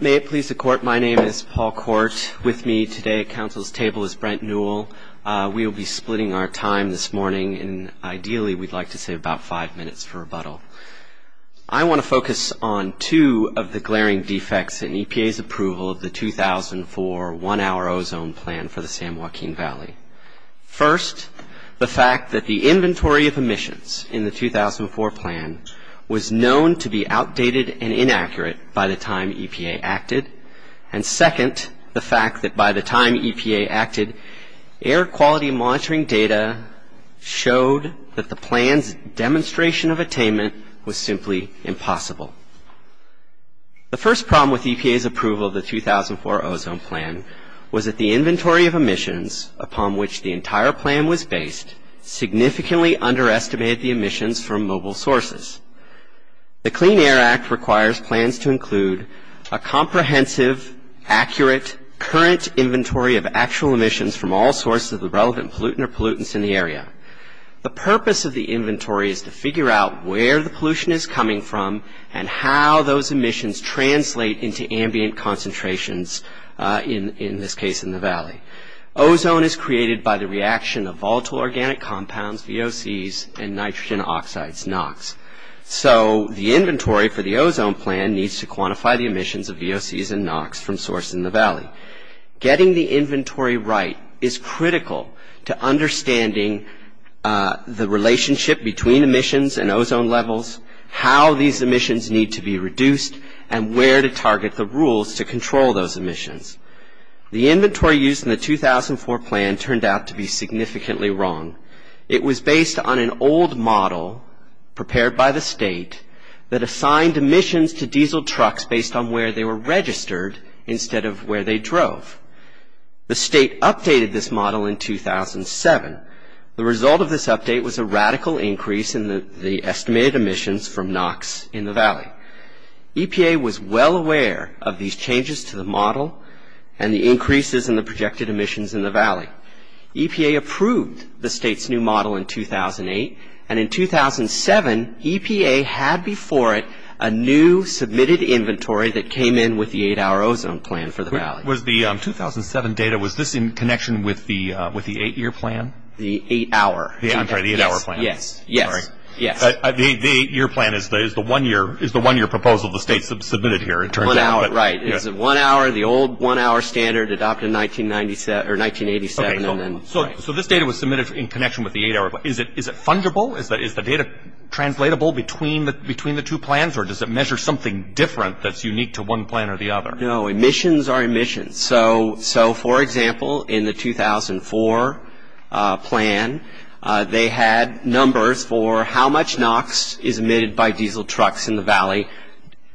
May it please the Court, my name is Paul Court. With me today at Council's table is Brent Newell. We will be splitting our time this morning, and ideally we'd like to save about five minutes for rebuttal. I want to focus on two of the glaring defects in EPA's approval of the 2004 one-hour ozone plan for the San Joaquin Valley. First, the fact that the inventory of emissions in the 2004 plan was known to be outdated and inaccurate by the time EPA acted. And second, the fact that by the time EPA acted, air quality monitoring data showed that the plan's demonstration of attainment was simply impossible. The first problem with EPA's approval of the 2004 ozone plan was that the inventory of emissions upon which the entire plan was based significantly underestimated the emissions from mobile sources. The Clean Air Act requires plans to include a comprehensive, accurate, current inventory of actual emissions from all sources of the relevant pollutant or pollutants in the area. The purpose of the inventory is to figure out where the pollution is coming from and how those emissions translate into ambient concentrations, in this case in the valley. Ozone is created by the reaction of volatile organic compounds, VOCs, and nitrogen oxides, NOx. So the inventory for the ozone plan needs to quantify the emissions of VOCs and NOx from sources in the valley. Getting the inventory right is critical to understanding the relationship between emissions and ozone levels, how these emissions need to be reduced, and where to target the rules to control those emissions. The inventory used in the 2004 plan turned out to be significantly wrong. It was based on an old model prepared by the state that assigned emissions to diesel trucks based on where they were registered instead of where they drove. The state updated this model in 2007. The result of this update was a radical increase in the estimated emissions from NOx in the valley. EPA was well aware of these changes to the model and the increases in the projected emissions in the valley. EPA approved the state's new model in 2008. And in 2007, EPA had before it a new submitted inventory that came in with the 8-hour ozone plan for the valley. Was the 2007 data, was this in connection with the 8-year plan? The 8-hour. I'm sorry, the 8-hour plan. Yes, yes, yes. The 8-year plan is the 1-year proposal the state submitted here, it turns out. Right. It's the 1-hour, the old 1-hour standard adopted in 1987. So this data was submitted in connection with the 8-hour plan. Is it fungible? Is the data translatable between the two plans, or does it measure something different that's unique to one plan or the other? No, emissions are emissions. So, for example, in the 2004 plan, they had numbers for how much NOx is emitted by diesel trucks in the valley,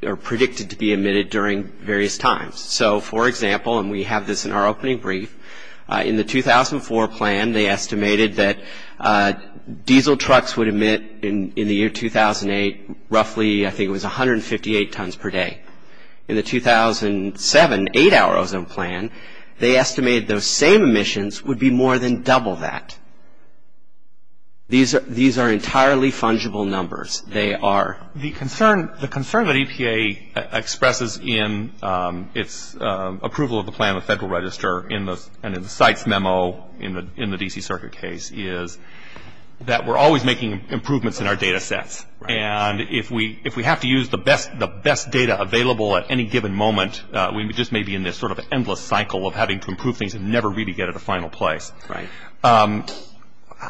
or predicted to be emitted during various times. So, for example, and we have this in our opening brief, in the 2004 plan they estimated that diesel trucks would emit in the year 2008 roughly, I think it was 158 tons per day. In the 2007 8-hour ozone plan, they estimated those same emissions would be more than double that. These are entirely fungible numbers. They are. The concern that EPA expresses in its approval of the plan with Federal Register and in the site's memo in the D.C. Circuit case is that we're always making improvements in our data sets. And if we have to use the best data available at any given moment, we just may be in this sort of endless cycle of having to improve things and never really get to the final place. Right.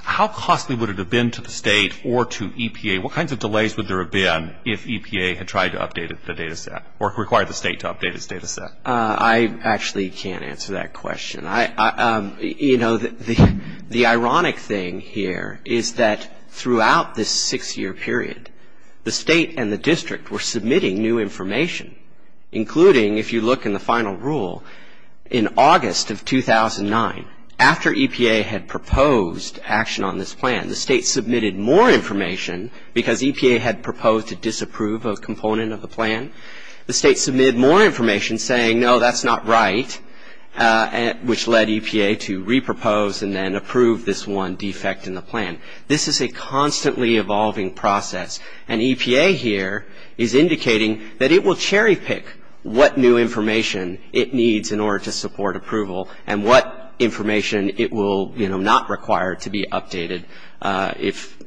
How costly would it have been to the state or to EPA? What kinds of delays would there have been if EPA had tried to update the data set or required the state to update its data set? I actually can't answer that question. You know, the ironic thing here is that throughout this six-year period, the state and the district were submitting new information, including, if you look in the final rule, in August of 2009, after EPA had proposed action on this plan, the state submitted more information because EPA had proposed to disapprove a component of the plan. The state submitted more information saying, No, that's not right, which led EPA to re-propose and then approve this one defect in the plan. This is a constantly evolving process, and EPA here is indicating that it will cherry-pick what new information it needs in order to support approval and what information it will not require to be updated if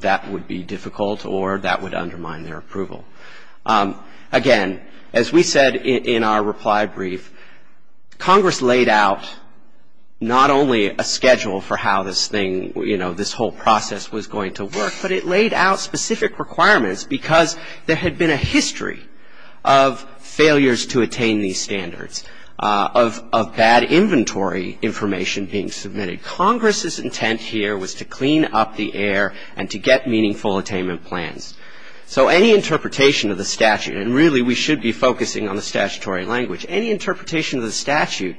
that would be difficult or that would undermine their approval. Again, as we said in our reply brief, Congress laid out not only a schedule for how this thing, you know, this whole process was going to work, but it laid out specific requirements because there had been a history of failures to attain these standards, of bad inventory information being submitted. Congress's intent here was to clean up the air and to get meaningful attainment plans. So any interpretation of the statute, and really we should be focusing on the statutory language, any interpretation of the statute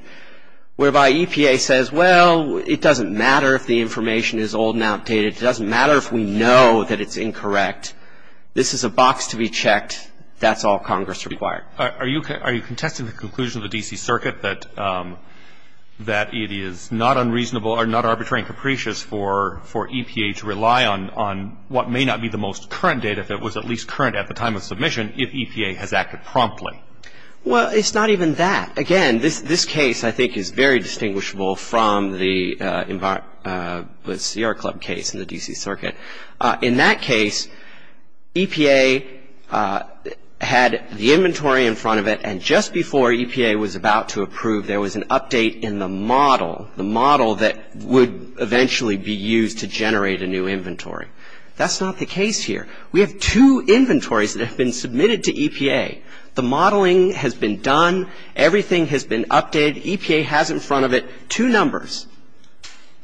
whereby EPA says, Well, it doesn't matter if the information is old and outdated. It doesn't matter if we know that it's incorrect. This is a box to be checked. That's all Congress required. Are you contesting the conclusion of the D.C. Circuit that it is not unreasonable or not arbitrary and capricious for EPA to rely on what may not be the most current data, if it was at least current at the time of submission, if EPA has acted promptly? Well, it's not even that. Again, this case I think is very distinguishable from the Sierra Club case in the D.C. Circuit. In that case, EPA had the inventory in front of it, and just before EPA was about to approve, there was an update in the model, the model that would eventually be used to generate a new inventory. That's not the case here. We have two inventories that have been submitted to EPA. The modeling has been done. Everything has been updated. EPA has in front of it two numbers.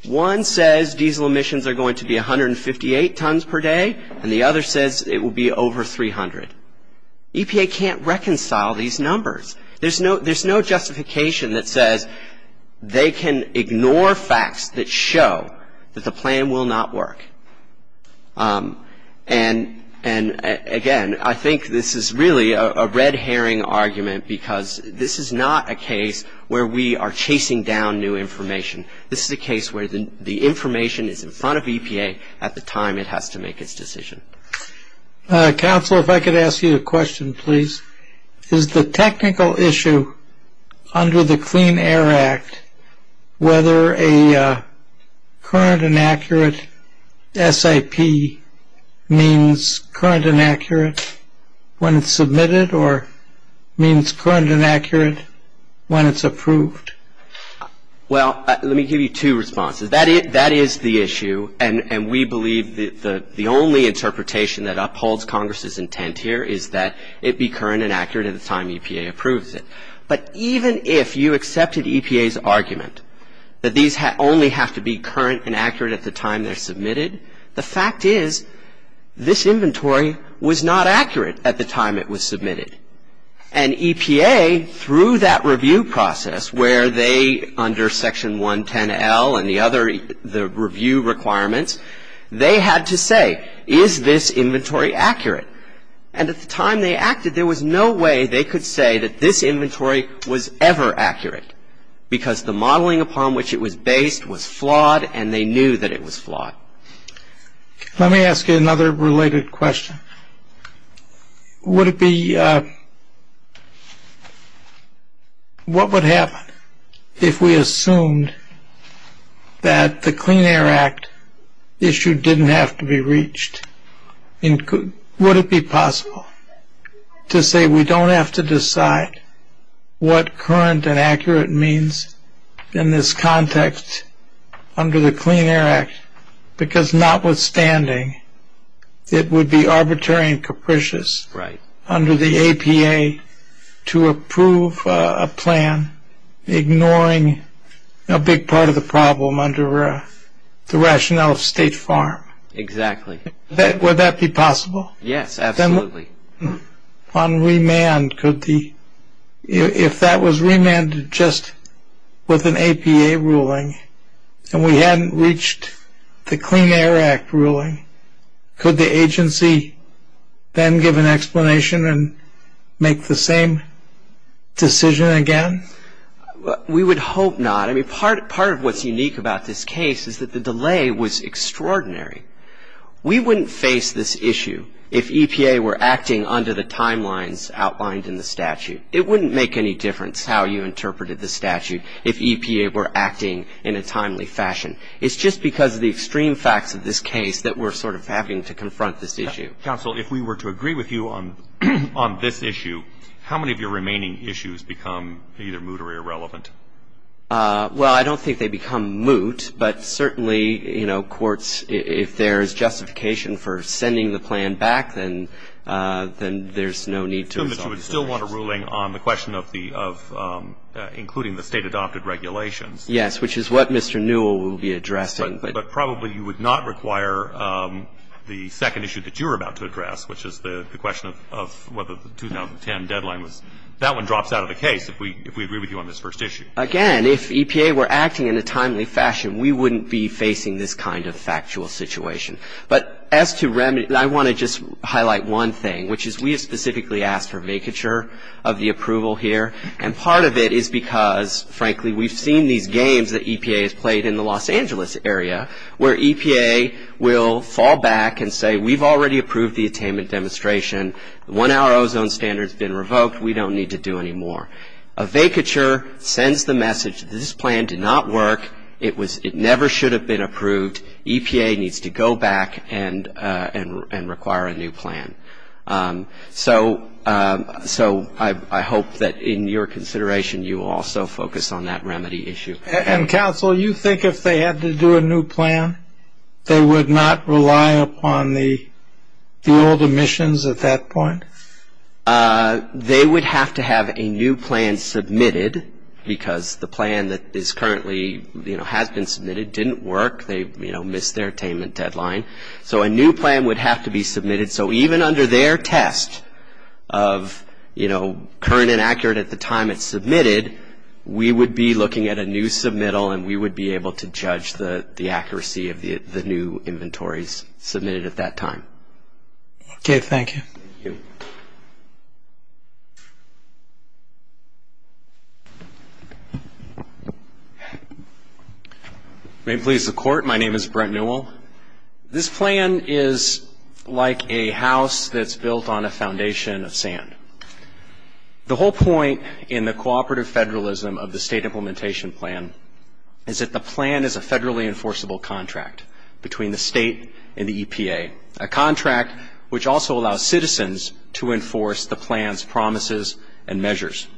One says diesel emissions are going to be 158 tons per day, and the other says it will be over 300. EPA can't reconcile these numbers. There's no justification that says they can ignore facts that show that the plan will not work. And, again, I think this is really a red herring argument because this is not a case where we are chasing down new information. This is a case where the information is in front of EPA at the time it has to make its decision. Counselor, if I could ask you a question, please. Is the technical issue under the Clean Air Act, whether a current and accurate SIP means current and accurate when it's submitted or means current and accurate when it's approved? Well, let me give you two responses. That is the issue, and we believe the only interpretation that upholds Congress' intent here is that it be current and accurate at the time EPA approves it. But even if you accepted EPA's argument that these only have to be current and accurate at the time they're submitted, the fact is this inventory was not accurate at the time it was submitted. And EPA, through that review process where they, under Section 110L and the other review requirements, they had to say, is this inventory accurate? And at the time they acted, there was no way they could say that this inventory was ever accurate because the modeling upon which it was based was flawed, and they knew that it was flawed. Let me ask you another related question. Would it be, what would happen if we assumed that the Clean Air Act issue didn't have to be reached? Would it be possible to say we don't have to decide what current and accurate means in this context under the Clean Air Act because notwithstanding, it would be arbitrary and capricious under the EPA to approve a plan ignoring a big part of the problem under the rationale of State Farm? Exactly. Would that be possible? Yes, absolutely. On remand, could the, if that was remanded just with an EPA ruling and we hadn't reached the Clean Air Act ruling, could the agency then give an explanation and make the same decision again? We would hope not. I mean, part of what's unique about this case is that the delay was extraordinary. We wouldn't face this issue if EPA were acting under the timelines outlined in the statute. It wouldn't make any difference how you interpreted the statute if EPA were acting in a timely fashion. It's just because of the extreme facts of this case that we're sort of having to confront this issue. Counsel, if we were to agree with you on this issue, how many of your remaining issues become either moot or irrelevant? Well, I don't think they become moot, but certainly, you know, courts, if there's justification for sending the plan back, then there's no need to resolve this issue. But you would still want a ruling on the question of including the state-adopted regulations. Yes, which is what Mr. Newell will be addressing. But probably you would not require the second issue that you're about to address, which is the question of whether the 2010 deadline was – that one drops out of the case, if we agree with you on this first issue. Again, if EPA were acting in a timely fashion, we wouldn't be facing this kind of factual situation. But as to remedy – and I want to just highlight one thing, which is we have specifically asked for make-it-sure of the approval here. And part of it is because, frankly, we've seen these games that EPA has played in the Los Angeles area, where EPA will fall back and say, we've already approved the attainment demonstration. The one-hour ozone standard's been revoked. We don't need to do any more. A make-it-sure sends the message that this plan did not work. It never should have been approved. EPA needs to go back and require a new plan. So I hope that, in your consideration, you will also focus on that remedy issue. And, counsel, you think if they had to do a new plan, they would not rely upon the old emissions at that point? They would have to have a new plan submitted, because the plan that is currently – has been submitted didn't work. They missed their attainment deadline. So a new plan would have to be submitted. So even under their test of, you know, current and accurate at the time it's submitted, we would be looking at a new submittal, and we would be able to judge the accuracy of the new inventories submitted at that time. Okay. Thank you. May it please the Court, my name is Brent Newell. This plan is like a house that's built on a foundation of sand. The whole point in the cooperative federalism of the State Implementation Plan is that the plan is a federally enforceable contract between the State and the EPA, a contract which also allows citizens to enforce the plan's promises and measures.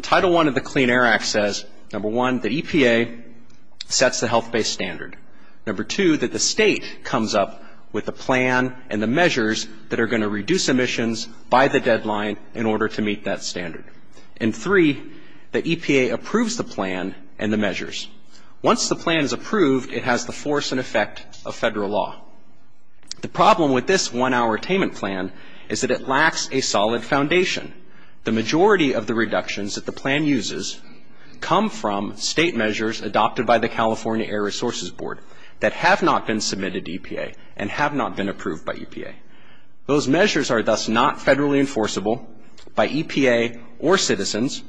Title I of the Clean Air Act says, number one, that EPA sets the health-based standard, number two, that the State comes up with the plan and the measures that are going to reduce emissions by the deadline in order to meet that standard, and three, that EPA approves the plan and the measures. Once the plan is approved, it has the force and effect of federal law. The problem with this one-hour attainment plan is that it lacks a solid foundation. The majority of the reductions that the plan uses come from State measures adopted by the California Air Resources Board that have not been submitted to EPA and have not been approved by EPA. Those measures are thus not federally enforceable by EPA or citizens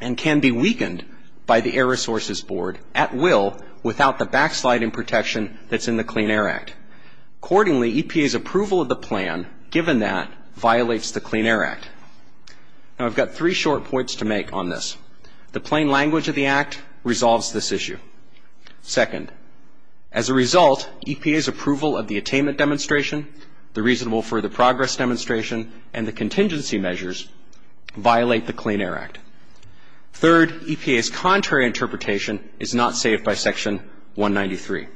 and can be weakened by the Air Resources Board at will without the backsliding protection that's in the Clean Air Act. Accordingly, EPA's approval of the plan, given that, violates the Clean Air Act. Now, I've got three short points to make on this. The plain language of the Act resolves this issue. Second, as a result, EPA's approval of the attainment demonstration, the reasonable-for-the-progress demonstration, and the contingency measures violate the Clean Air Act. Third, EPA's contrary interpretation is not saved by Section 193.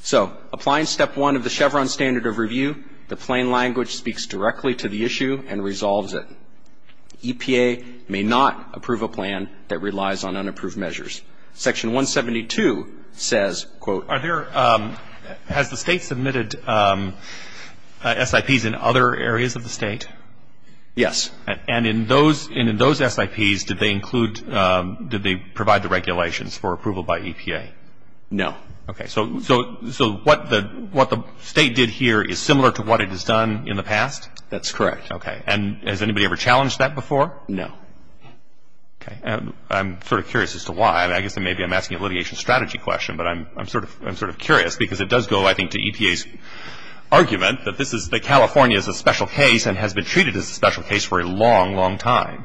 So, applying Step 1 of the Chevron Standard of Review, the plain language speaks directly to the issue and resolves it. EPA may not approve a plan that relies on unapproved measures. Section 172 says, quote, Are there, has the State submitted SIPs in other areas of the State? Yes. And in those SIPs, did they include, did they provide the regulations for approval by EPA? No. Okay. So, what the State did here is similar to what it has done in the past? That's correct. Okay. And has anybody ever challenged that before? No. Okay. I'm sort of curious as to why. I guess maybe I'm asking a litigation strategy question, but I'm sort of curious because it does go, I think, to EPA's argument that this is, that California is a special case and has been treated as a special case for a long, long time.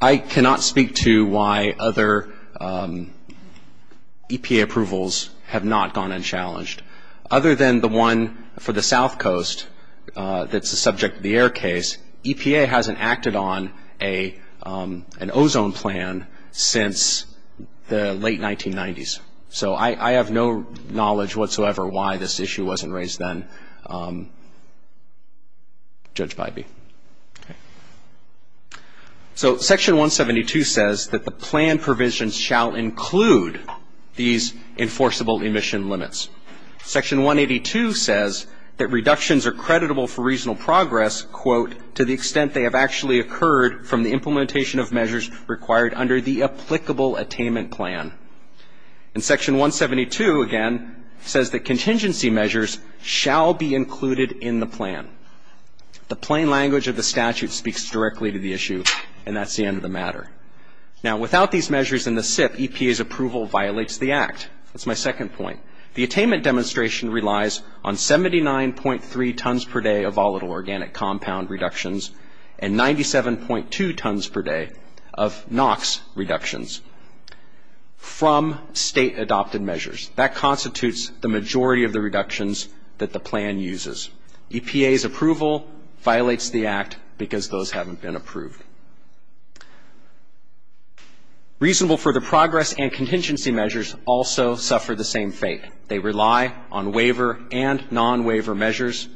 I cannot speak to why other EPA approvals have not gone unchallenged. Other than the one for the South Coast that's the subject of the air case, EPA hasn't acted on an ozone plan since the late 1990s. So, I have no knowledge whatsoever why this issue wasn't raised then, Judge Bybee. Okay. So, Section 172 says that the plan provisions shall include these enforceable emission limits. Section 182 says that reductions are creditable for regional progress, quote, to the extent they have actually occurred from the implementation of measures required under the And Section 172, again, says that contingency measures shall be included in the plan. The plain language of the statute speaks directly to the issue, and that's the end of the matter. Now, without these measures in the SIP, EPA's approval violates the Act. That's my second point. The attainment demonstration relies on 79.3 tons per day of volatile organic compound reductions and 97.2 tons per day of NOx reductions. From State-adopted measures. That constitutes the majority of the reductions that the plan uses. EPA's approval violates the Act because those haven't been approved. Reasonable-for-the-progress and contingency measures also suffer the same fate. They rely on waiver and non-waiver measures.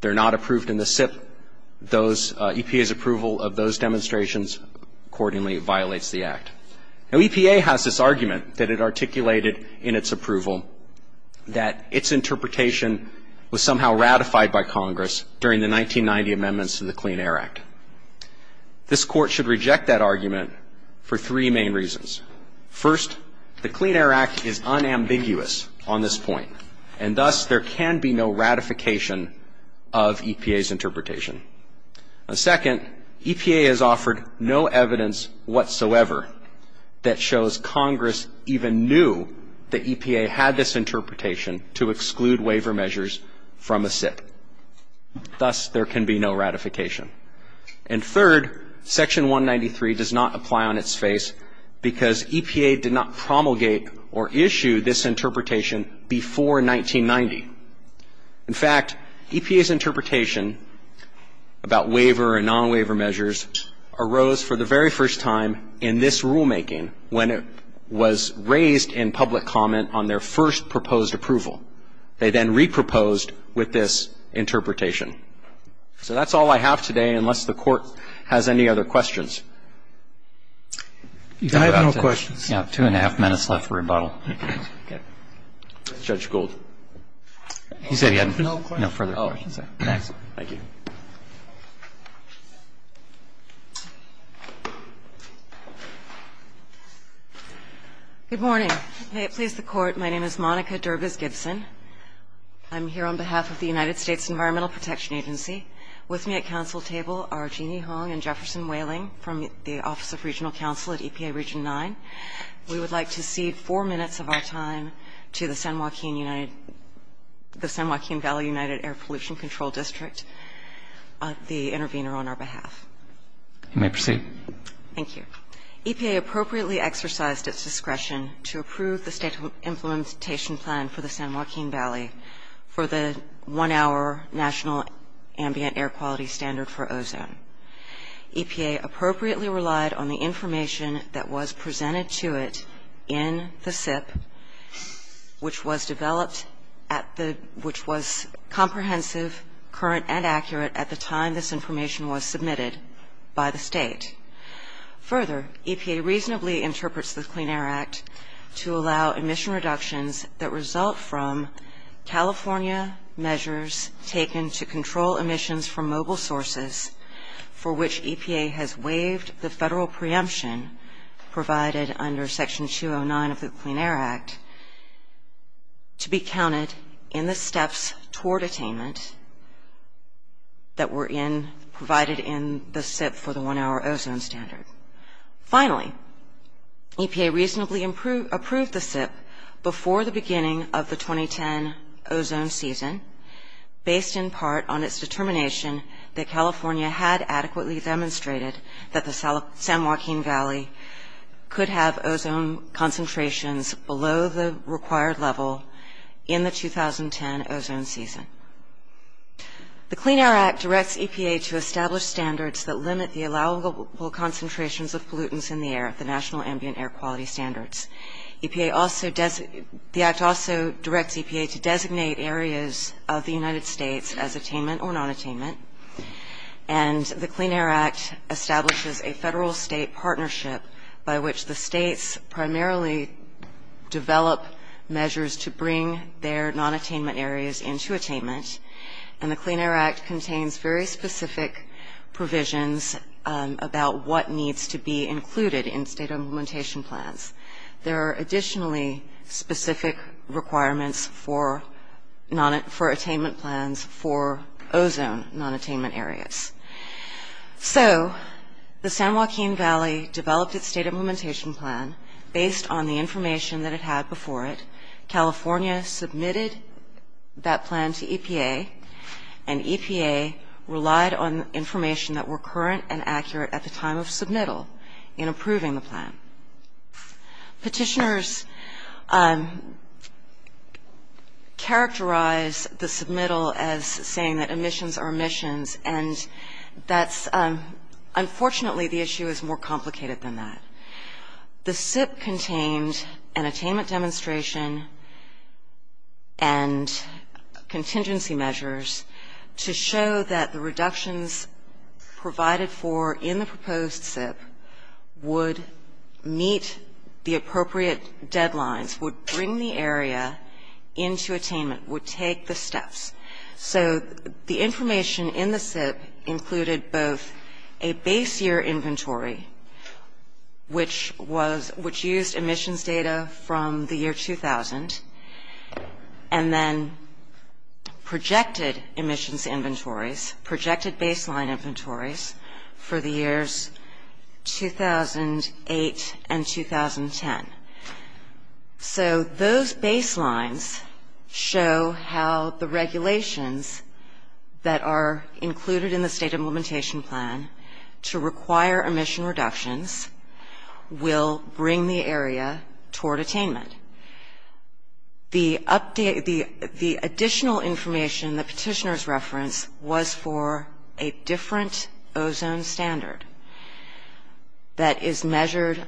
They're not approved in the SIP. EPA's approval of those demonstrations accordingly violates the Act. Now, EPA has this argument that it articulated in its approval that its interpretation was somehow ratified by Congress during the 1990 amendments to the Clean Air Act. This Court should reject that argument for three main reasons. First, the Clean Air Act is unambiguous on this point, and thus there can be no ratification of EPA's interpretation. Second, EPA has offered no evidence whatsoever that shows Congress even knew that EPA had this interpretation to exclude waiver measures from a SIP. Thus, there can be no ratification. And third, Section 193 does not apply on its face because EPA did not promulgate or issue this interpretation before 1990. In fact, EPA's interpretation about waiver and non-waiver measures arose for the very first time in this rulemaking when it was raised in public comment on their first proposed approval. They then re-proposed with this interpretation. So that's all I have today, unless the Court has any other questions. I have no questions. We have two and a half minutes left for rebuttal. Judge Gould. He said he had no further questions. Thank you. Good morning. May it please the Court, my name is Monica Derbys Gibson. I'm here on behalf of the United States Environmental Protection Agency. With me at council table are Jeanne Hong and Jefferson Whaling from the Office of Regional Counsel at EPA Region 9. We would like to cede four minutes of our time to the San Joaquin Valley United Air Pollution Control District, the intervener on our behalf. You may proceed. Thank you. EPA appropriately exercised its discretion to approve the state implementation plan for the San Joaquin Valley for the one-hour National Ambient Air Quality Standard for ozone. EPA appropriately relied on the information that was presented to it in the SIP, which was comprehensive, current, and accurate at the time this information was submitted by the state. Further, EPA reasonably interprets the Clean Air Act to allow emission reductions that result from California measures taken to control emissions from mobile sources for which EPA has waived the federal preemption provided under Section 209 of the Clean Air Act to be counted in the steps toward attainment that were provided in the SIP for the one-hour ozone standard. Finally, EPA reasonably approved the SIP before the beginning of the 2010 ozone season, based in part on its determination that California had adequately demonstrated that the San Joaquin Valley could have ozone concentrations below the required level in the 2010 ozone season. The Clean Air Act directs EPA to establish standards that limit the allowable concentrations of pollutants in the air at the National Ambient Air Quality Standards. The Act also directs EPA to designate areas of the United States as attainment or non-attainment, and the Clean Air Act establishes a federal-state partnership by which the states primarily develop measures to bring their non-attainment areas into attainment, and the Clean Air Act contains very specific provisions about what needs to be included in state implementation plans. There are additionally specific requirements for attainment plans for ozone non-attainment areas. So the San Joaquin Valley developed its state implementation plan based on the information that it had before it. California submitted that plan to EPA, and EPA relied on information that were current and accurate at the time of submittal in approving the plan. Petitioners characterize the submittal as saying that emissions are emissions, and that's unfortunately the issue is more complicated than that. The SIP contained an attainment demonstration and contingency measures to show that the reductions provided for in the proposed SIP would meet the appropriate deadlines, would bring the area into attainment, would take the steps. So the information in the SIP included both a base year inventory, which used emissions data from the year 2000, and then projected emissions inventories, projected baseline inventories for the years 2008 and 2010. So those baselines show how the regulations that are included in the state implementation plan to require emission reductions will bring the area toward attainment. The additional information the petitioners referenced was for a different ozone standard that is measured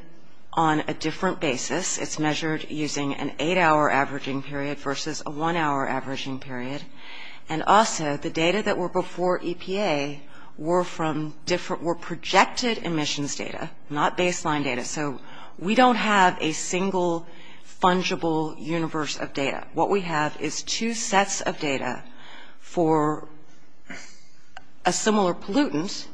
on a different basis. It's measured using an eight-hour averaging period versus a one-hour averaging period. And also, the data that were before EPA were from different – were projected emissions data, not baseline data. So we don't have a single fungible universe of data. What we have is two sets of data for a similar pollutant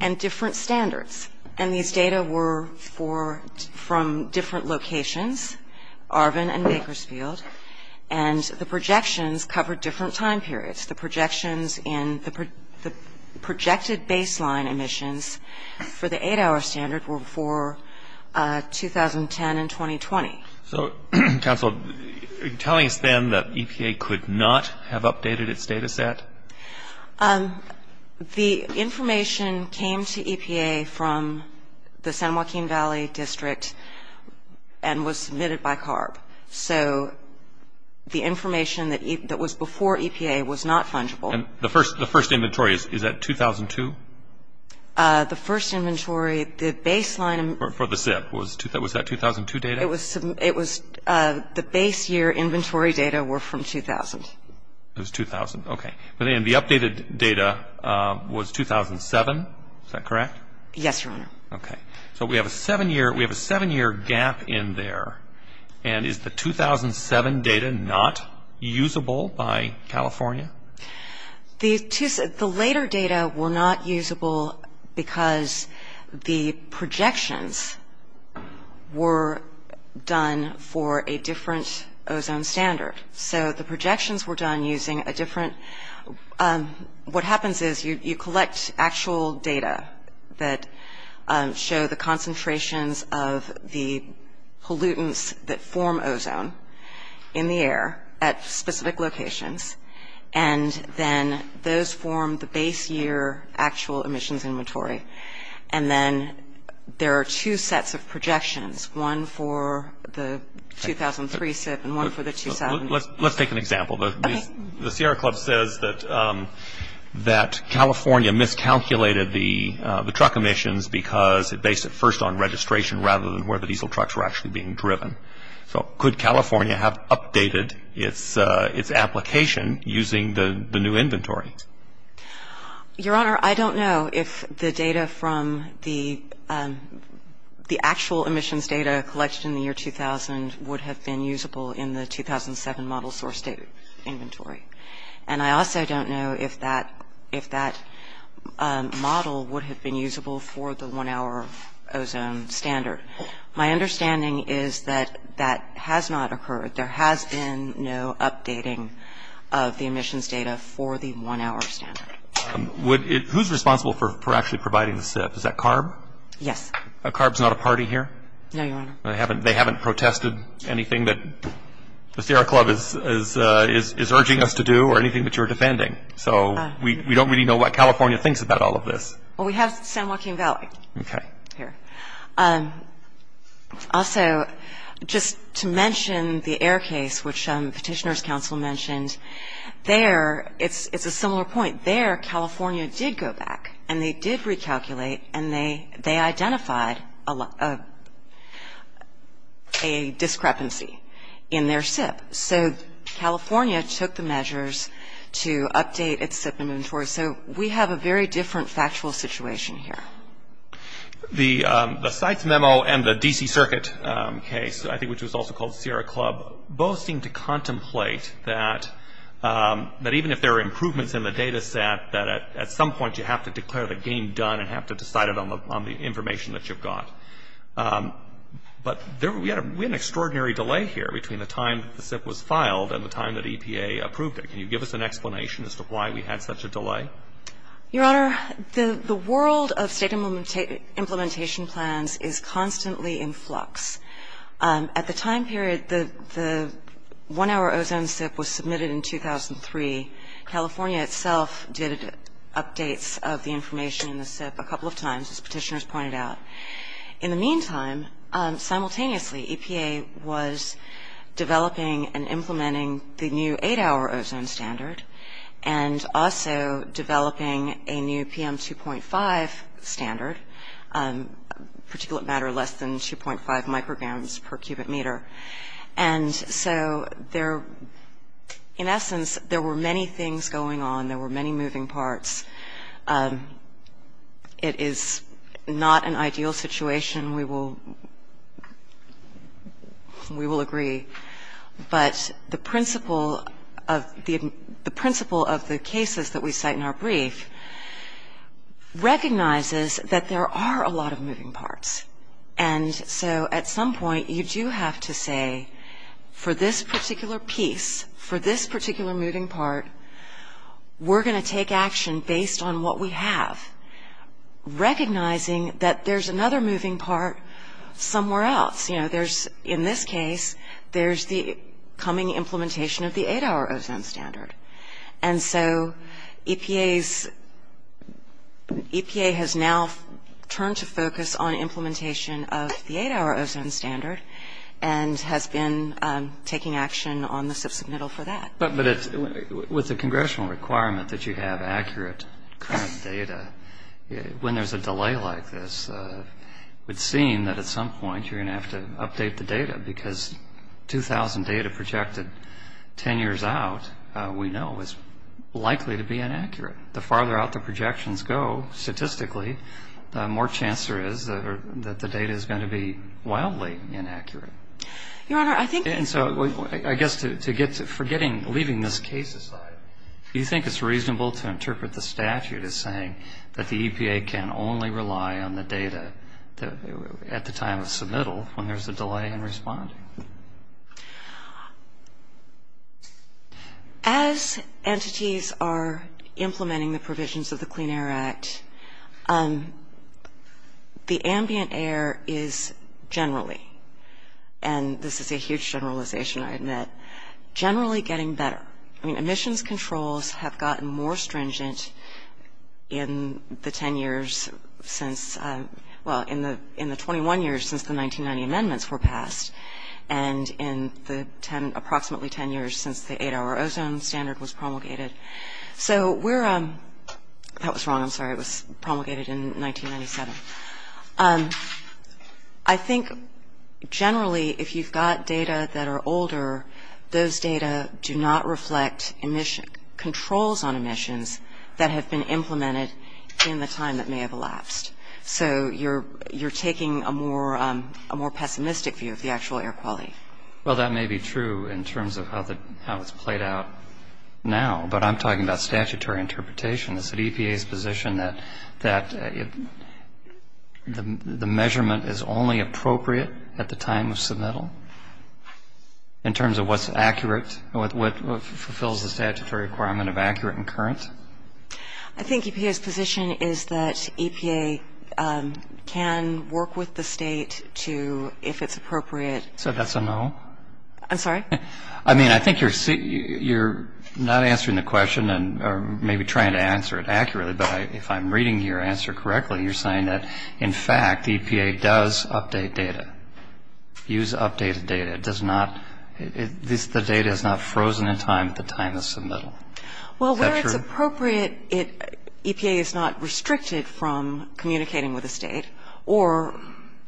and different standards. And these data were for – from different locations, Arvin and Bakersfield. And the projections covered different time periods. The projections in the projected baseline emissions for the eight-hour standard were for 2010 and 2020. So, counsel, are you telling us then that EPA could not have updated its data set? The information came to EPA from the San Joaquin Valley District and was submitted by CARB. So the information that was before EPA was not fungible. And the first inventory, is that 2002? The first inventory, the baseline – For the SIP. Was that 2002 data? It was – the base year inventory data were from 2000. It was 2000. Okay. And the updated data was 2007. Is that correct? Yes, Your Honor. Okay. So we have a seven-year gap in there. And is the 2007 data not usable by California? The later data were not usable because the projections were done for a different ozone standard. So the projections were done using a different – what happens is you collect actual data that show the concentrations of the pollutants that form ozone in the air at specific locations. And then those form the base year actual emissions inventory. And then there are two sets of projections, one for the 2003 SIP and one for the 2007. Let's take an example. The Sierra Club says that California miscalculated the truck emissions because it based it first on registration rather than where the diesel trucks were actually being driven. So could California have updated its application using the new inventory? Your Honor, I don't know if the data from the actual emissions data collected in the year 2000 would have been usable in the 2007 model source inventory. And I also don't know if that model would have been usable for the one-hour ozone standard. My understanding is that that has not occurred. There has been no updating of the emissions data for the one-hour standard. Who's responsible for actually providing the SIP? Is that CARB? Yes. CARB's not a party here? No, Your Honor. They haven't protested anything that the Sierra Club is urging us to do or anything that you're defending? So we don't really know what California thinks about all of this. Well, we have San Joaquin Valley here. Also, just to mention the air case, which Petitioner's Counsel mentioned. There, it's a similar point. There, California did go back, and they did recalculate, and they identified a discrepancy in their SIP. So California took the measures to update its SIP inventory. So we have a very different factual situation here. The CITES memo and the D.C. Circuit case, I think which was also called Sierra Club, both seem to contemplate that even if there are improvements in the data set, that at some point you have to declare the game done and have to decide it on the information that you've got. But we had an extraordinary delay here between the time that the SIP was filed and the time that EPA approved it. Can you give us an explanation as to why we had such a delay? Your Honor, the world of state implementation plans is constantly in flux. At the time period, the one-hour ozone SIP was submitted in 2003. California itself did updates of the information in the SIP a couple of times, as Petitioner's pointed out. In the meantime, simultaneously, EPA was developing and implementing the new eight-hour ozone standard and also developing a new PM2.5 standard, particulate matter less than 2.5 micrograms per cubic meter. And so in essence, there were many things going on. There were many moving parts. It is not an ideal situation. We will agree. But the principle of the cases that we cite in our brief recognizes that there are a lot of moving parts. And so at some point, you do have to say, for this particular piece, for this particular moving part, we're going to take action based on what we have, recognizing that there's another moving part somewhere else. You know, in this case, there's the coming implementation of the eight-hour ozone standard. And so EPA has now turned to focus on implementation of the eight-hour ozone standard and has been taking action on the SIP submittal for that. But with the congressional requirement that you have accurate current data, when there's a delay like this, it would seem that at some point you're going to have to update the data because 2,000 data projected 10 years out we know is likely to be inaccurate. The farther out the projections go statistically, the more chance there is that the data is going to be wildly inaccurate. Your Honor, I think... And so I guess to get to forgetting, leaving this case aside, do you think it's reasonable to interpret the statute as saying that the EPA can only rely on the data at the time of submittal when there's a delay in responding? As entities are implementing the provisions of the Clean Air Act, the ambient air is generally, and this is a huge generalization, I admit, generally getting better. I mean, emissions controls have gotten more stringent in the 10 years since... Well, in the 21 years since the 1990 amendments were passed and in the approximately 10 years since the 8-hour ozone standard was promulgated. So we're... That was wrong. I'm sorry. It was promulgated in 1997. I think generally if you've got data that are older, those data do not reflect controls on emissions that have been implemented in the time that may have elapsed. So you're taking a more pessimistic view of the actual air quality. Well, that may be true in terms of how it's played out now, but I'm talking about statutory interpretation. Is it EPA's position that the measurement is only appropriate at the time of submittal in terms of what's accurate, what fulfills the statutory requirement of accurate and current? I think EPA's position is that EPA can work with the state to, if it's appropriate... So that's a no? I'm sorry? I mean, I think you're not answering the question or maybe trying to answer it accurately, but if I'm reading your answer correctly, you're saying that, in fact, EPA does update data, use updated data. It does not... The data is not frozen in time at the time of submittal. Well, where it's appropriate, EPA is not restricted from communicating with the state or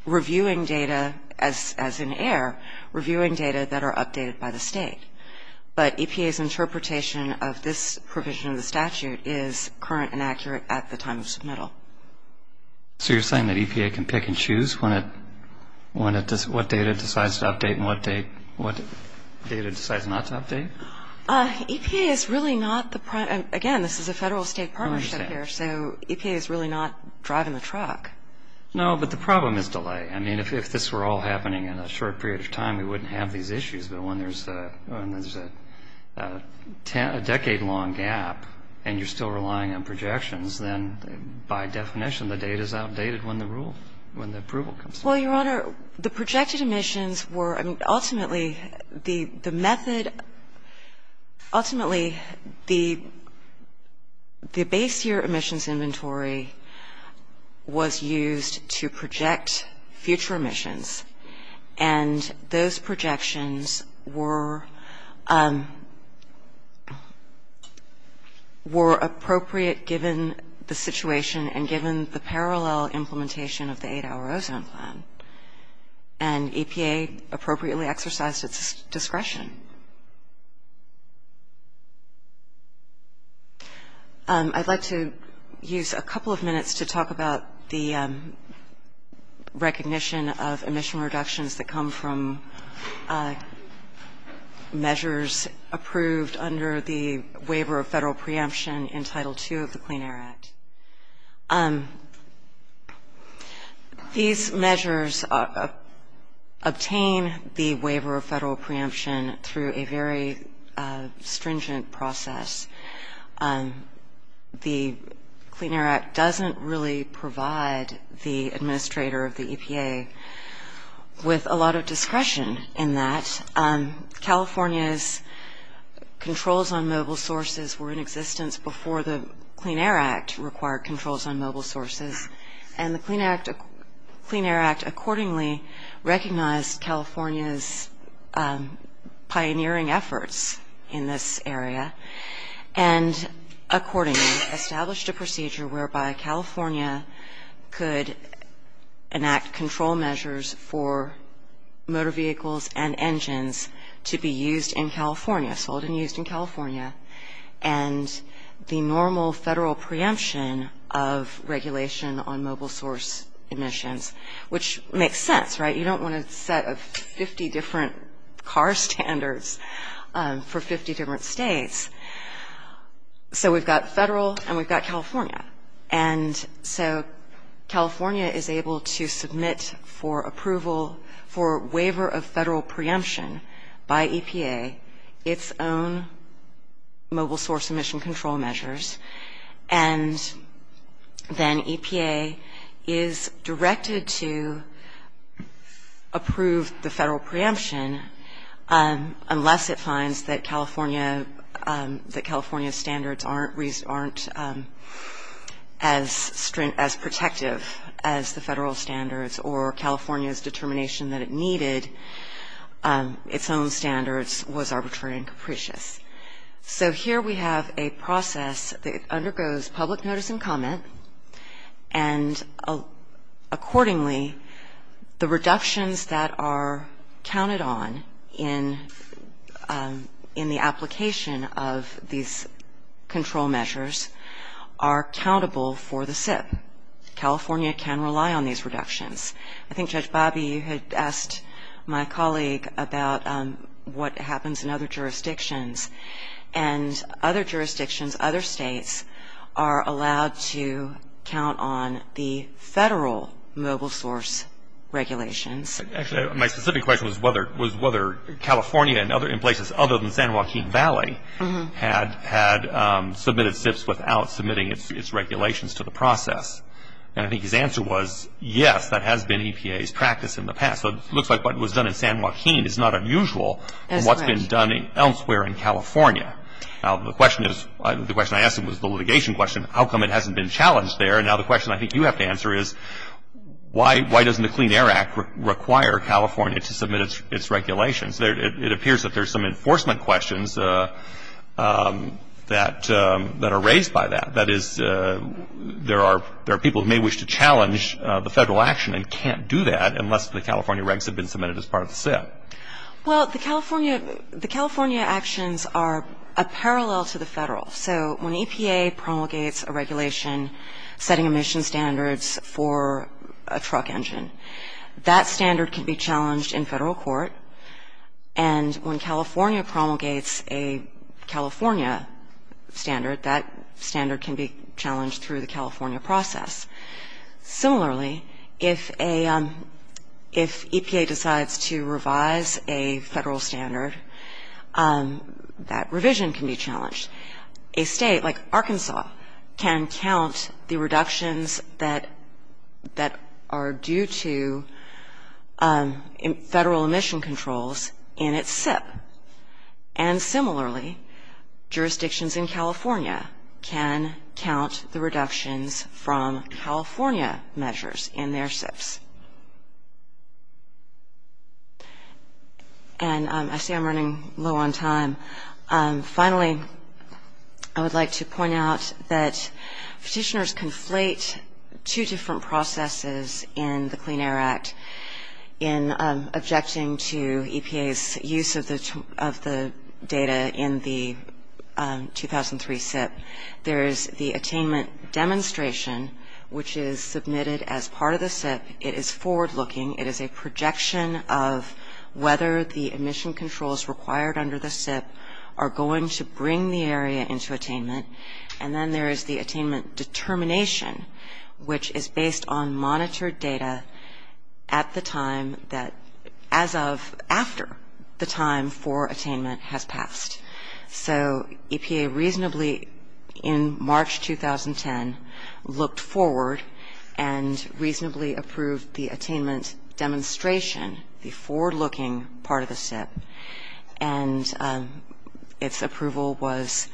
reviewing data as in air, reviewing data that are updated by the state. But EPA's interpretation of this provision of the statute is current and accurate at the time of submittal. So you're saying that EPA can pick and choose what data it decides to update and what data it decides not to update? EPA is really not the prime... Again, this is a federal-state partnership here, so EPA is really not driving the truck. No, but the problem is delay. I mean, if this were all happening in a short period of time, we wouldn't have these issues. But when there's a decade-long gap and you're still relying on projections, then by definition the data is outdated when the rule, when the approval comes through. Well, Your Honor, the projected emissions were ultimately the method, ultimately the base year emissions inventory was used to project future emissions. And those projections were appropriate given the situation and given the parallel implementation of the eight-hour ozone plan. And EPA appropriately exercised its discretion. I'd like to use a couple of minutes to talk about the recognition of emission reductions that come from measures approved under the waiver of federal preemption in Title II of the Clean Air Act. These measures obtain the waiver of federal preemption through a very stringent process. The Clean Air Act doesn't really provide the administrator of the EPA with a lot of discretion in that. California's controls on mobile sources were in existence before the Clean Air Act required controls on mobile sources. And the Clean Air Act accordingly recognized California's pioneering efforts in this area and accordingly established a procedure whereby California could enact control measures for motor vehicles and engines to be used in California, sold and used in California. And the normal federal preemption of regulation on mobile source emissions, which makes sense, right? You don't want a set of 50 different car standards for 50 different states. So we've got federal and we've got California. And so California is able to submit for approval for waiver of federal preemption by EPA its own mobile source emission control measures. And then EPA is directed to approve the federal preemption unless it finds that California standards aren't as protective as the federal standards or California's determination that it needed its own standards was arbitrary and capricious. So here we have a process that undergoes public notice and comment And accordingly, the reductions that are counted on in the application of these control measures are countable for the SIP. California can rely on these reductions. I think Judge Bobby, you had asked my colleague about what happens in other jurisdictions. And other jurisdictions, other states are allowed to count on the federal mobile source regulations. Actually, my specific question was whether California and other places other than San Joaquin Valley had submitted SIPs without submitting its regulations to the process. And I think his answer was, yes, that has been EPA's practice in the past. So it looks like what was done in San Joaquin is not unusual from what's been done elsewhere in California. Now, the question I asked him was the litigation question. How come it hasn't been challenged there? And now the question I think you have to answer is, why doesn't the Clean Air Act require California to submit its regulations? It appears that there's some enforcement questions that are raised by that. That is, there are people who may wish to challenge the federal action and can't do that unless the California regs have been submitted as part of the SIP. Well, the California actions are a parallel to the federal. So when EPA promulgates a regulation setting emission standards for a truck engine, that standard can be challenged in federal court. And when California promulgates a California standard, that standard can be challenged through the California process. Similarly, if EPA decides to revise a federal standard, that revision can be challenged. A state like Arkansas can count the reductions that are due to federal emission controls in its SIP. And similarly, jurisdictions in California can count the reductions from California measures in their SIPs. And I see I'm running low on time. Finally, I would like to point out that petitioners conflate two different processes in the Clean Air Act. In objecting to EPA's use of the data in the 2003 SIP, there is the attainment demonstration, which is submitted as part of the SIP. It is forward-looking. It is a projection of whether the emission controls required under the SIP are going to bring the area into attainment. And then there is the attainment determination, which is based on monitored data at the time that as of after the time for attainment has passed. So EPA reasonably in March 2010 looked forward and reasonably approved the attainment demonstration, the forward-looking part of the SIP. And its approval was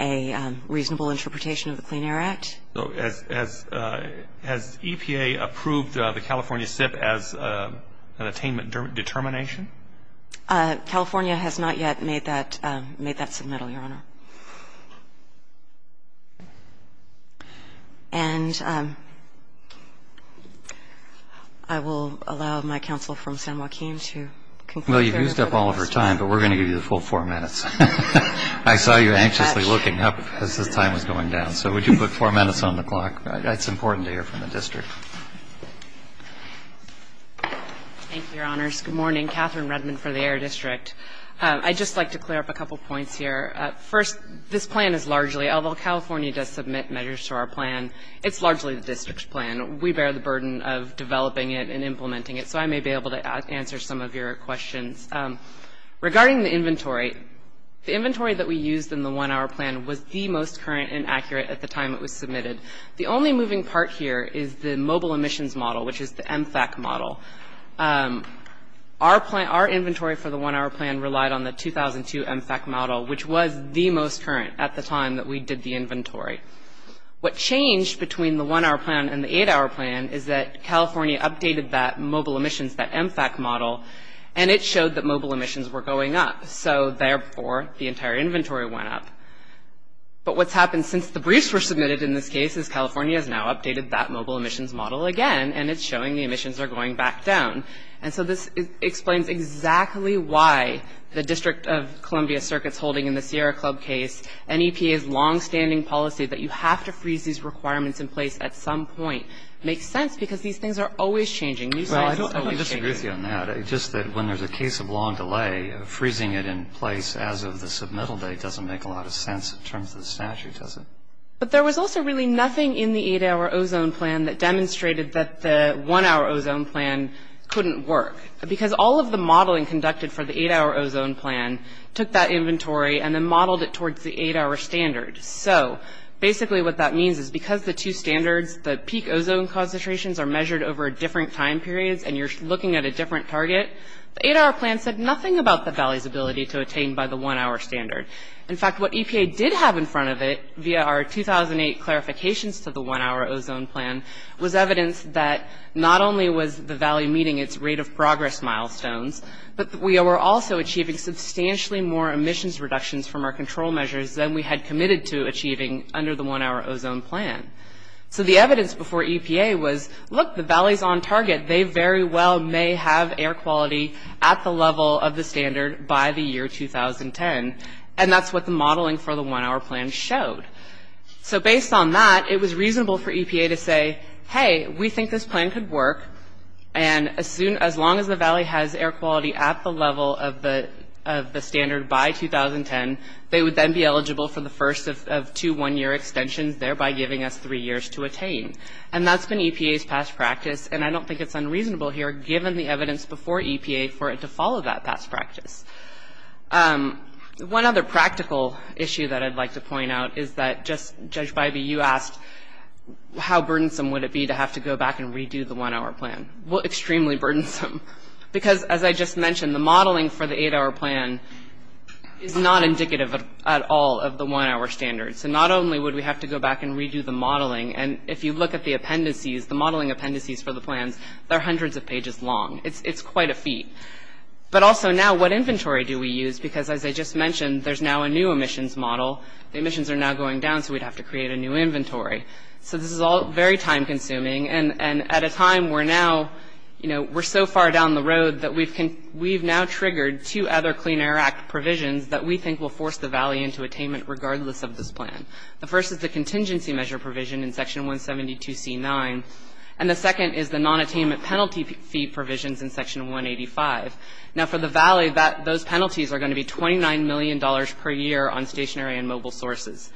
a reasonable interpretation of the Clean Air Act. So has EPA approved the California SIP as an attainment determination? California has not yet made that submittal, Your Honor. And I will allow my counsel from San Joaquin to conclude. Well, you've used up all of her time, but we're going to give you the full four minutes. I saw you anxiously looking up as the time was going down. So would you put four minutes on the clock? It's important to hear from the district. Thank you, Your Honors. Good morning. Catherine Redmond for the Air District. I'd just like to clear up a couple points here. First, this plan is largely, although California does submit measures to our plan, it's largely the district's plan. We bear the burden of developing it and implementing it, so I may be able to answer some of your questions. Regarding the inventory, the inventory that we used in the one-hour plan was the most current and accurate at the time it was submitted. The only moving part here is the mobile emissions model, which is the MFAC model. Our inventory for the one-hour plan relied on the 2002 MFAC model, which was the most current at the time that we did the inventory. What changed between the one-hour plan and the eight-hour plan is that California updated that mobile emissions, that MFAC model, and it showed that mobile emissions were going up. So, therefore, the entire inventory went up. But what's happened since the briefs were submitted in this case is California has now updated that mobile emissions model again, and it's showing the emissions are going back down. And so this explains exactly why the District of Columbia Circuit's holding in the Sierra Club case and EPA's longstanding policy that you have to freeze these requirements in place at some point makes sense because these things are always changing. Well, I don't disagree with you on that. Just that when there's a case of long delay, freezing it in place as of the submittal date doesn't make a lot of sense in terms of the statute, does it? But there was also really nothing in the eight-hour ozone plan that demonstrated that the one-hour ozone plan couldn't work because all of the modeling conducted for the eight-hour ozone plan took that inventory and then modeled it towards the eight-hour standard. So, basically, what that means is because the two standards, the peak ozone concentrations are measured over different time periods and you're looking at a different target, the eight-hour plan said nothing about the valley's ability to attain by the one-hour standard. In fact, what EPA did have in front of it via our 2008 clarifications to the one-hour ozone plan was evidence that not only was the valley meeting its rate of progress milestones, but we were also achieving substantially more emissions reductions from our control measures than we had committed to achieving under the one-hour ozone plan. So the evidence before EPA was, look, the valley's on target. They very well may have air quality at the level of the standard by the year 2010. And that's what the modeling for the one-hour plan showed. So based on that, it was reasonable for EPA to say, hey, we think this plan could work, and as long as the valley has air quality at the level of the standard by 2010, they would then be eligible for the first of two one-year extensions, thereby giving us three years to attain. And that's been EPA's past practice. And I don't think it's unreasonable here, given the evidence before EPA, for it to follow that past practice. One other practical issue that I'd like to point out is that just, Judge Bybee, you asked how burdensome would it be to have to go back and redo the one-hour plan. Well, extremely burdensome, because as I just mentioned, the modeling for the eight-hour plan is not indicative at all of the one-hour standard. So not only would we have to go back and redo the modeling, and if you look at the appendices, the modeling appendices for the plans, they're hundreds of pages long. It's quite a feat. But also now, what inventory do we use? Because as I just mentioned, there's now a new emissions model. The emissions are now going down, so we'd have to create a new inventory. So this is all very time-consuming, and at a time where now, you know, we're so far down the road that we've now triggered two other Clean Air Act provisions that we think will force the Valley into attainment regardless of this plan. The first is the contingency measure provision in Section 172C9, and the second is the non-attainment penalty fee provisions in Section 185. Now, for the Valley, those penalties are going to be $29 million per year on stationary and mobile sources.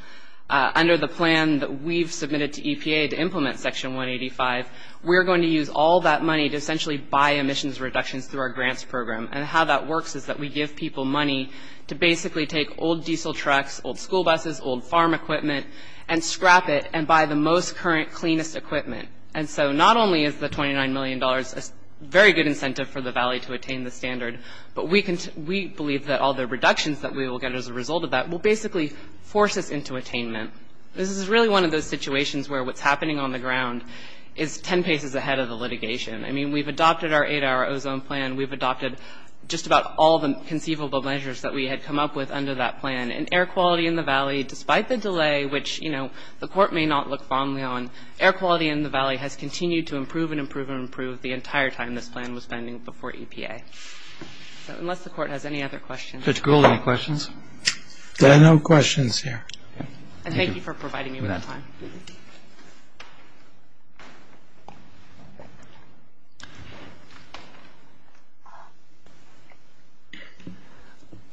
Under the plan that we've submitted to EPA to implement Section 185, we're going to use all that money to essentially buy emissions reductions through our grants program, and how that works is that we give people money to basically take old diesel trucks, old school buses, old farm equipment, and scrap it and buy the most current, cleanest equipment. And so not only is the $29 million a very good incentive for the Valley to attain the standard, but we believe that all the reductions that we will get as a result of that will basically force us into attainment. This is really one of those situations where what's happening on the ground is 10 paces ahead of the litigation. I mean, we've adopted our 8-hour ozone plan. We've adopted just about all the conceivable measures that we had come up with under that plan. And air quality in the Valley, despite the delay, which, you know, the Court may not look fondly on, air quality in the Valley has continued to improve and improve and improve the entire time this plan was pending before EPA. So unless the Court has any other questions. Judge Gould, any questions? There are no questions here. And thank you for providing me with that time.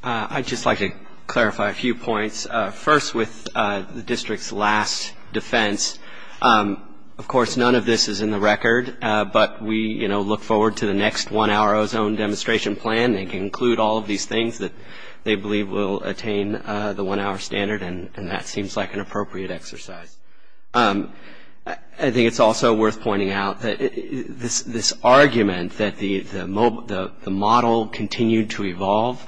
I'd just like to clarify a few points. First, with the district's last defense, of course, none of this is in the record, but we, you know, look forward to the next 1-hour ozone demonstration plan that can include all of these things that they believe will attain the 1-hour standard, and that seems like an appropriate exercise. I think it's also worth pointing out that this argument that the model continued to evolve,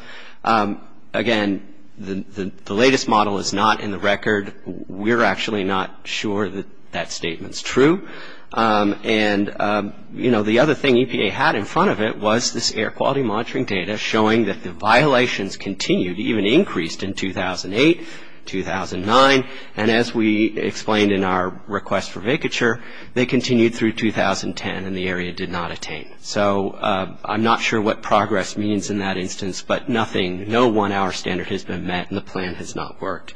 again, the latest model is not in the record. We're actually not sure that that statement's true. And, you know, the other thing EPA had in front of it was this air quality monitoring data showing that the violations continued, even increased in 2008, 2009, and as we explained in our request for vacature, they continued through 2010, and the area did not attain. So I'm not sure what progress means in that instance, but nothing, no 1-hour standard has been met and the plan has not worked.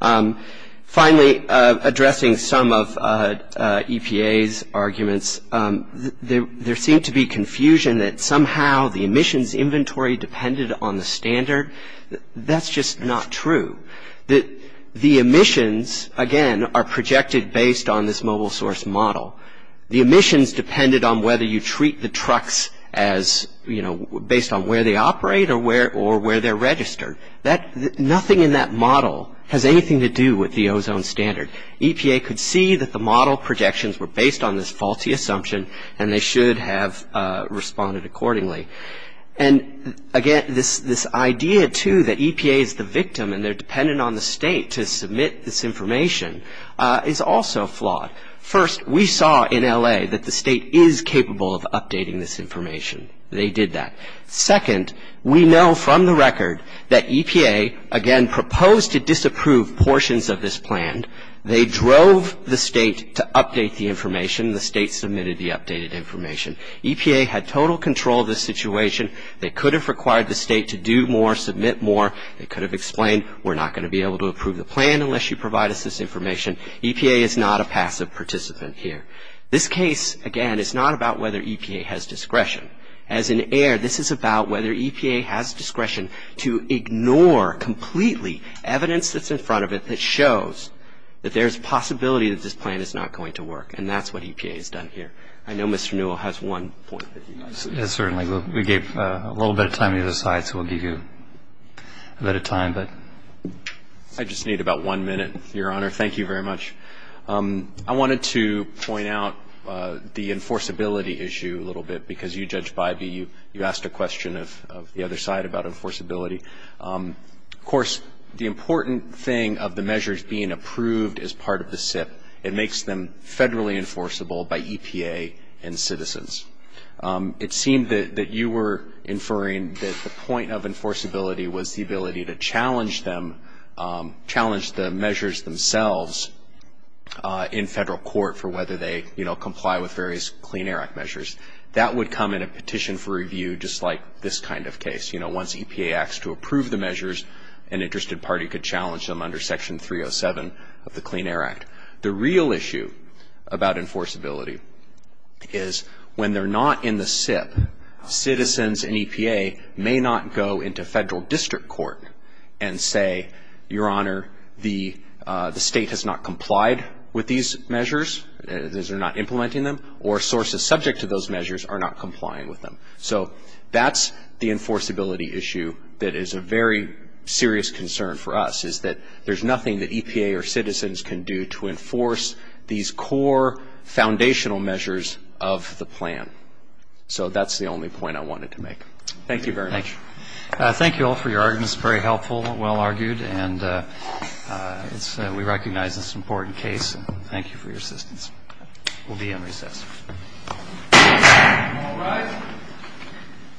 Finally, addressing some of EPA's arguments, there seemed to be confusion that somehow the emissions inventory depended on the standard. That's just not true. The emissions, again, are projected based on this mobile source model. The emissions depended on whether you treat the trucks as, you know, based on where they operate or where they're registered. Nothing in that model has anything to do with the ozone standard. EPA could see that the model projections were based on this faulty assumption and they should have responded accordingly. And, again, this idea, too, that EPA is the victim and they're dependent on the state to submit this information is also flawed. First, we saw in L.A. that the state is capable of updating this information. They did that. Second, we know from the record that EPA, again, proposed to disapprove portions of this plan. They drove the state to update the information. The state submitted the updated information. EPA had total control of the situation. They could have required the state to do more, submit more. They could have explained, we're not going to be able to approve the plan unless you provide us this information. EPA is not a passive participant here. This case, again, is not about whether EPA has discretion. As an heir, this is about whether EPA has discretion to ignore completely evidence that's in front of it that shows that there's a possibility that this plan is not going to work, and that's what EPA has done here. I know Mr. Newell has one point. Yes, certainly. We gave a little bit of time to either side, so we'll give you a bit of time. I just need about one minute, Your Honor. Thank you very much. I wanted to point out the enforceability issue a little bit because you, Judge Bybee, you asked a question of the other side about enforceability. Of course, the important thing of the measures being approved as part of the SIP, it makes them federally enforceable by EPA and citizens. It seemed that you were inferring that the point of enforceability was the ability to challenge them, challenge the measures themselves in federal court for whether they, you know, comply with various Clean Air Act measures. That would come in a petition for review just like this kind of case. You know, once EPA acts to approve the measures, an interested party could challenge them under Section 307 of the Clean Air Act. The real issue about enforceability is when they're not in the SIP, citizens in EPA may not go into federal district court and say, Your Honor, the state has not complied with these measures, because they're not implementing them, or sources subject to those measures are not complying with them. So that's the enforceability issue that is a very serious concern for us, is that there's nothing that EPA or citizens can do to enforce these core foundational measures of the plan. So that's the only point I wanted to make. Thank you very much. Thank you all for your arguments, very helpful, well-argued, and we recognize it's an important case. Thank you for your assistance. We'll be in recess.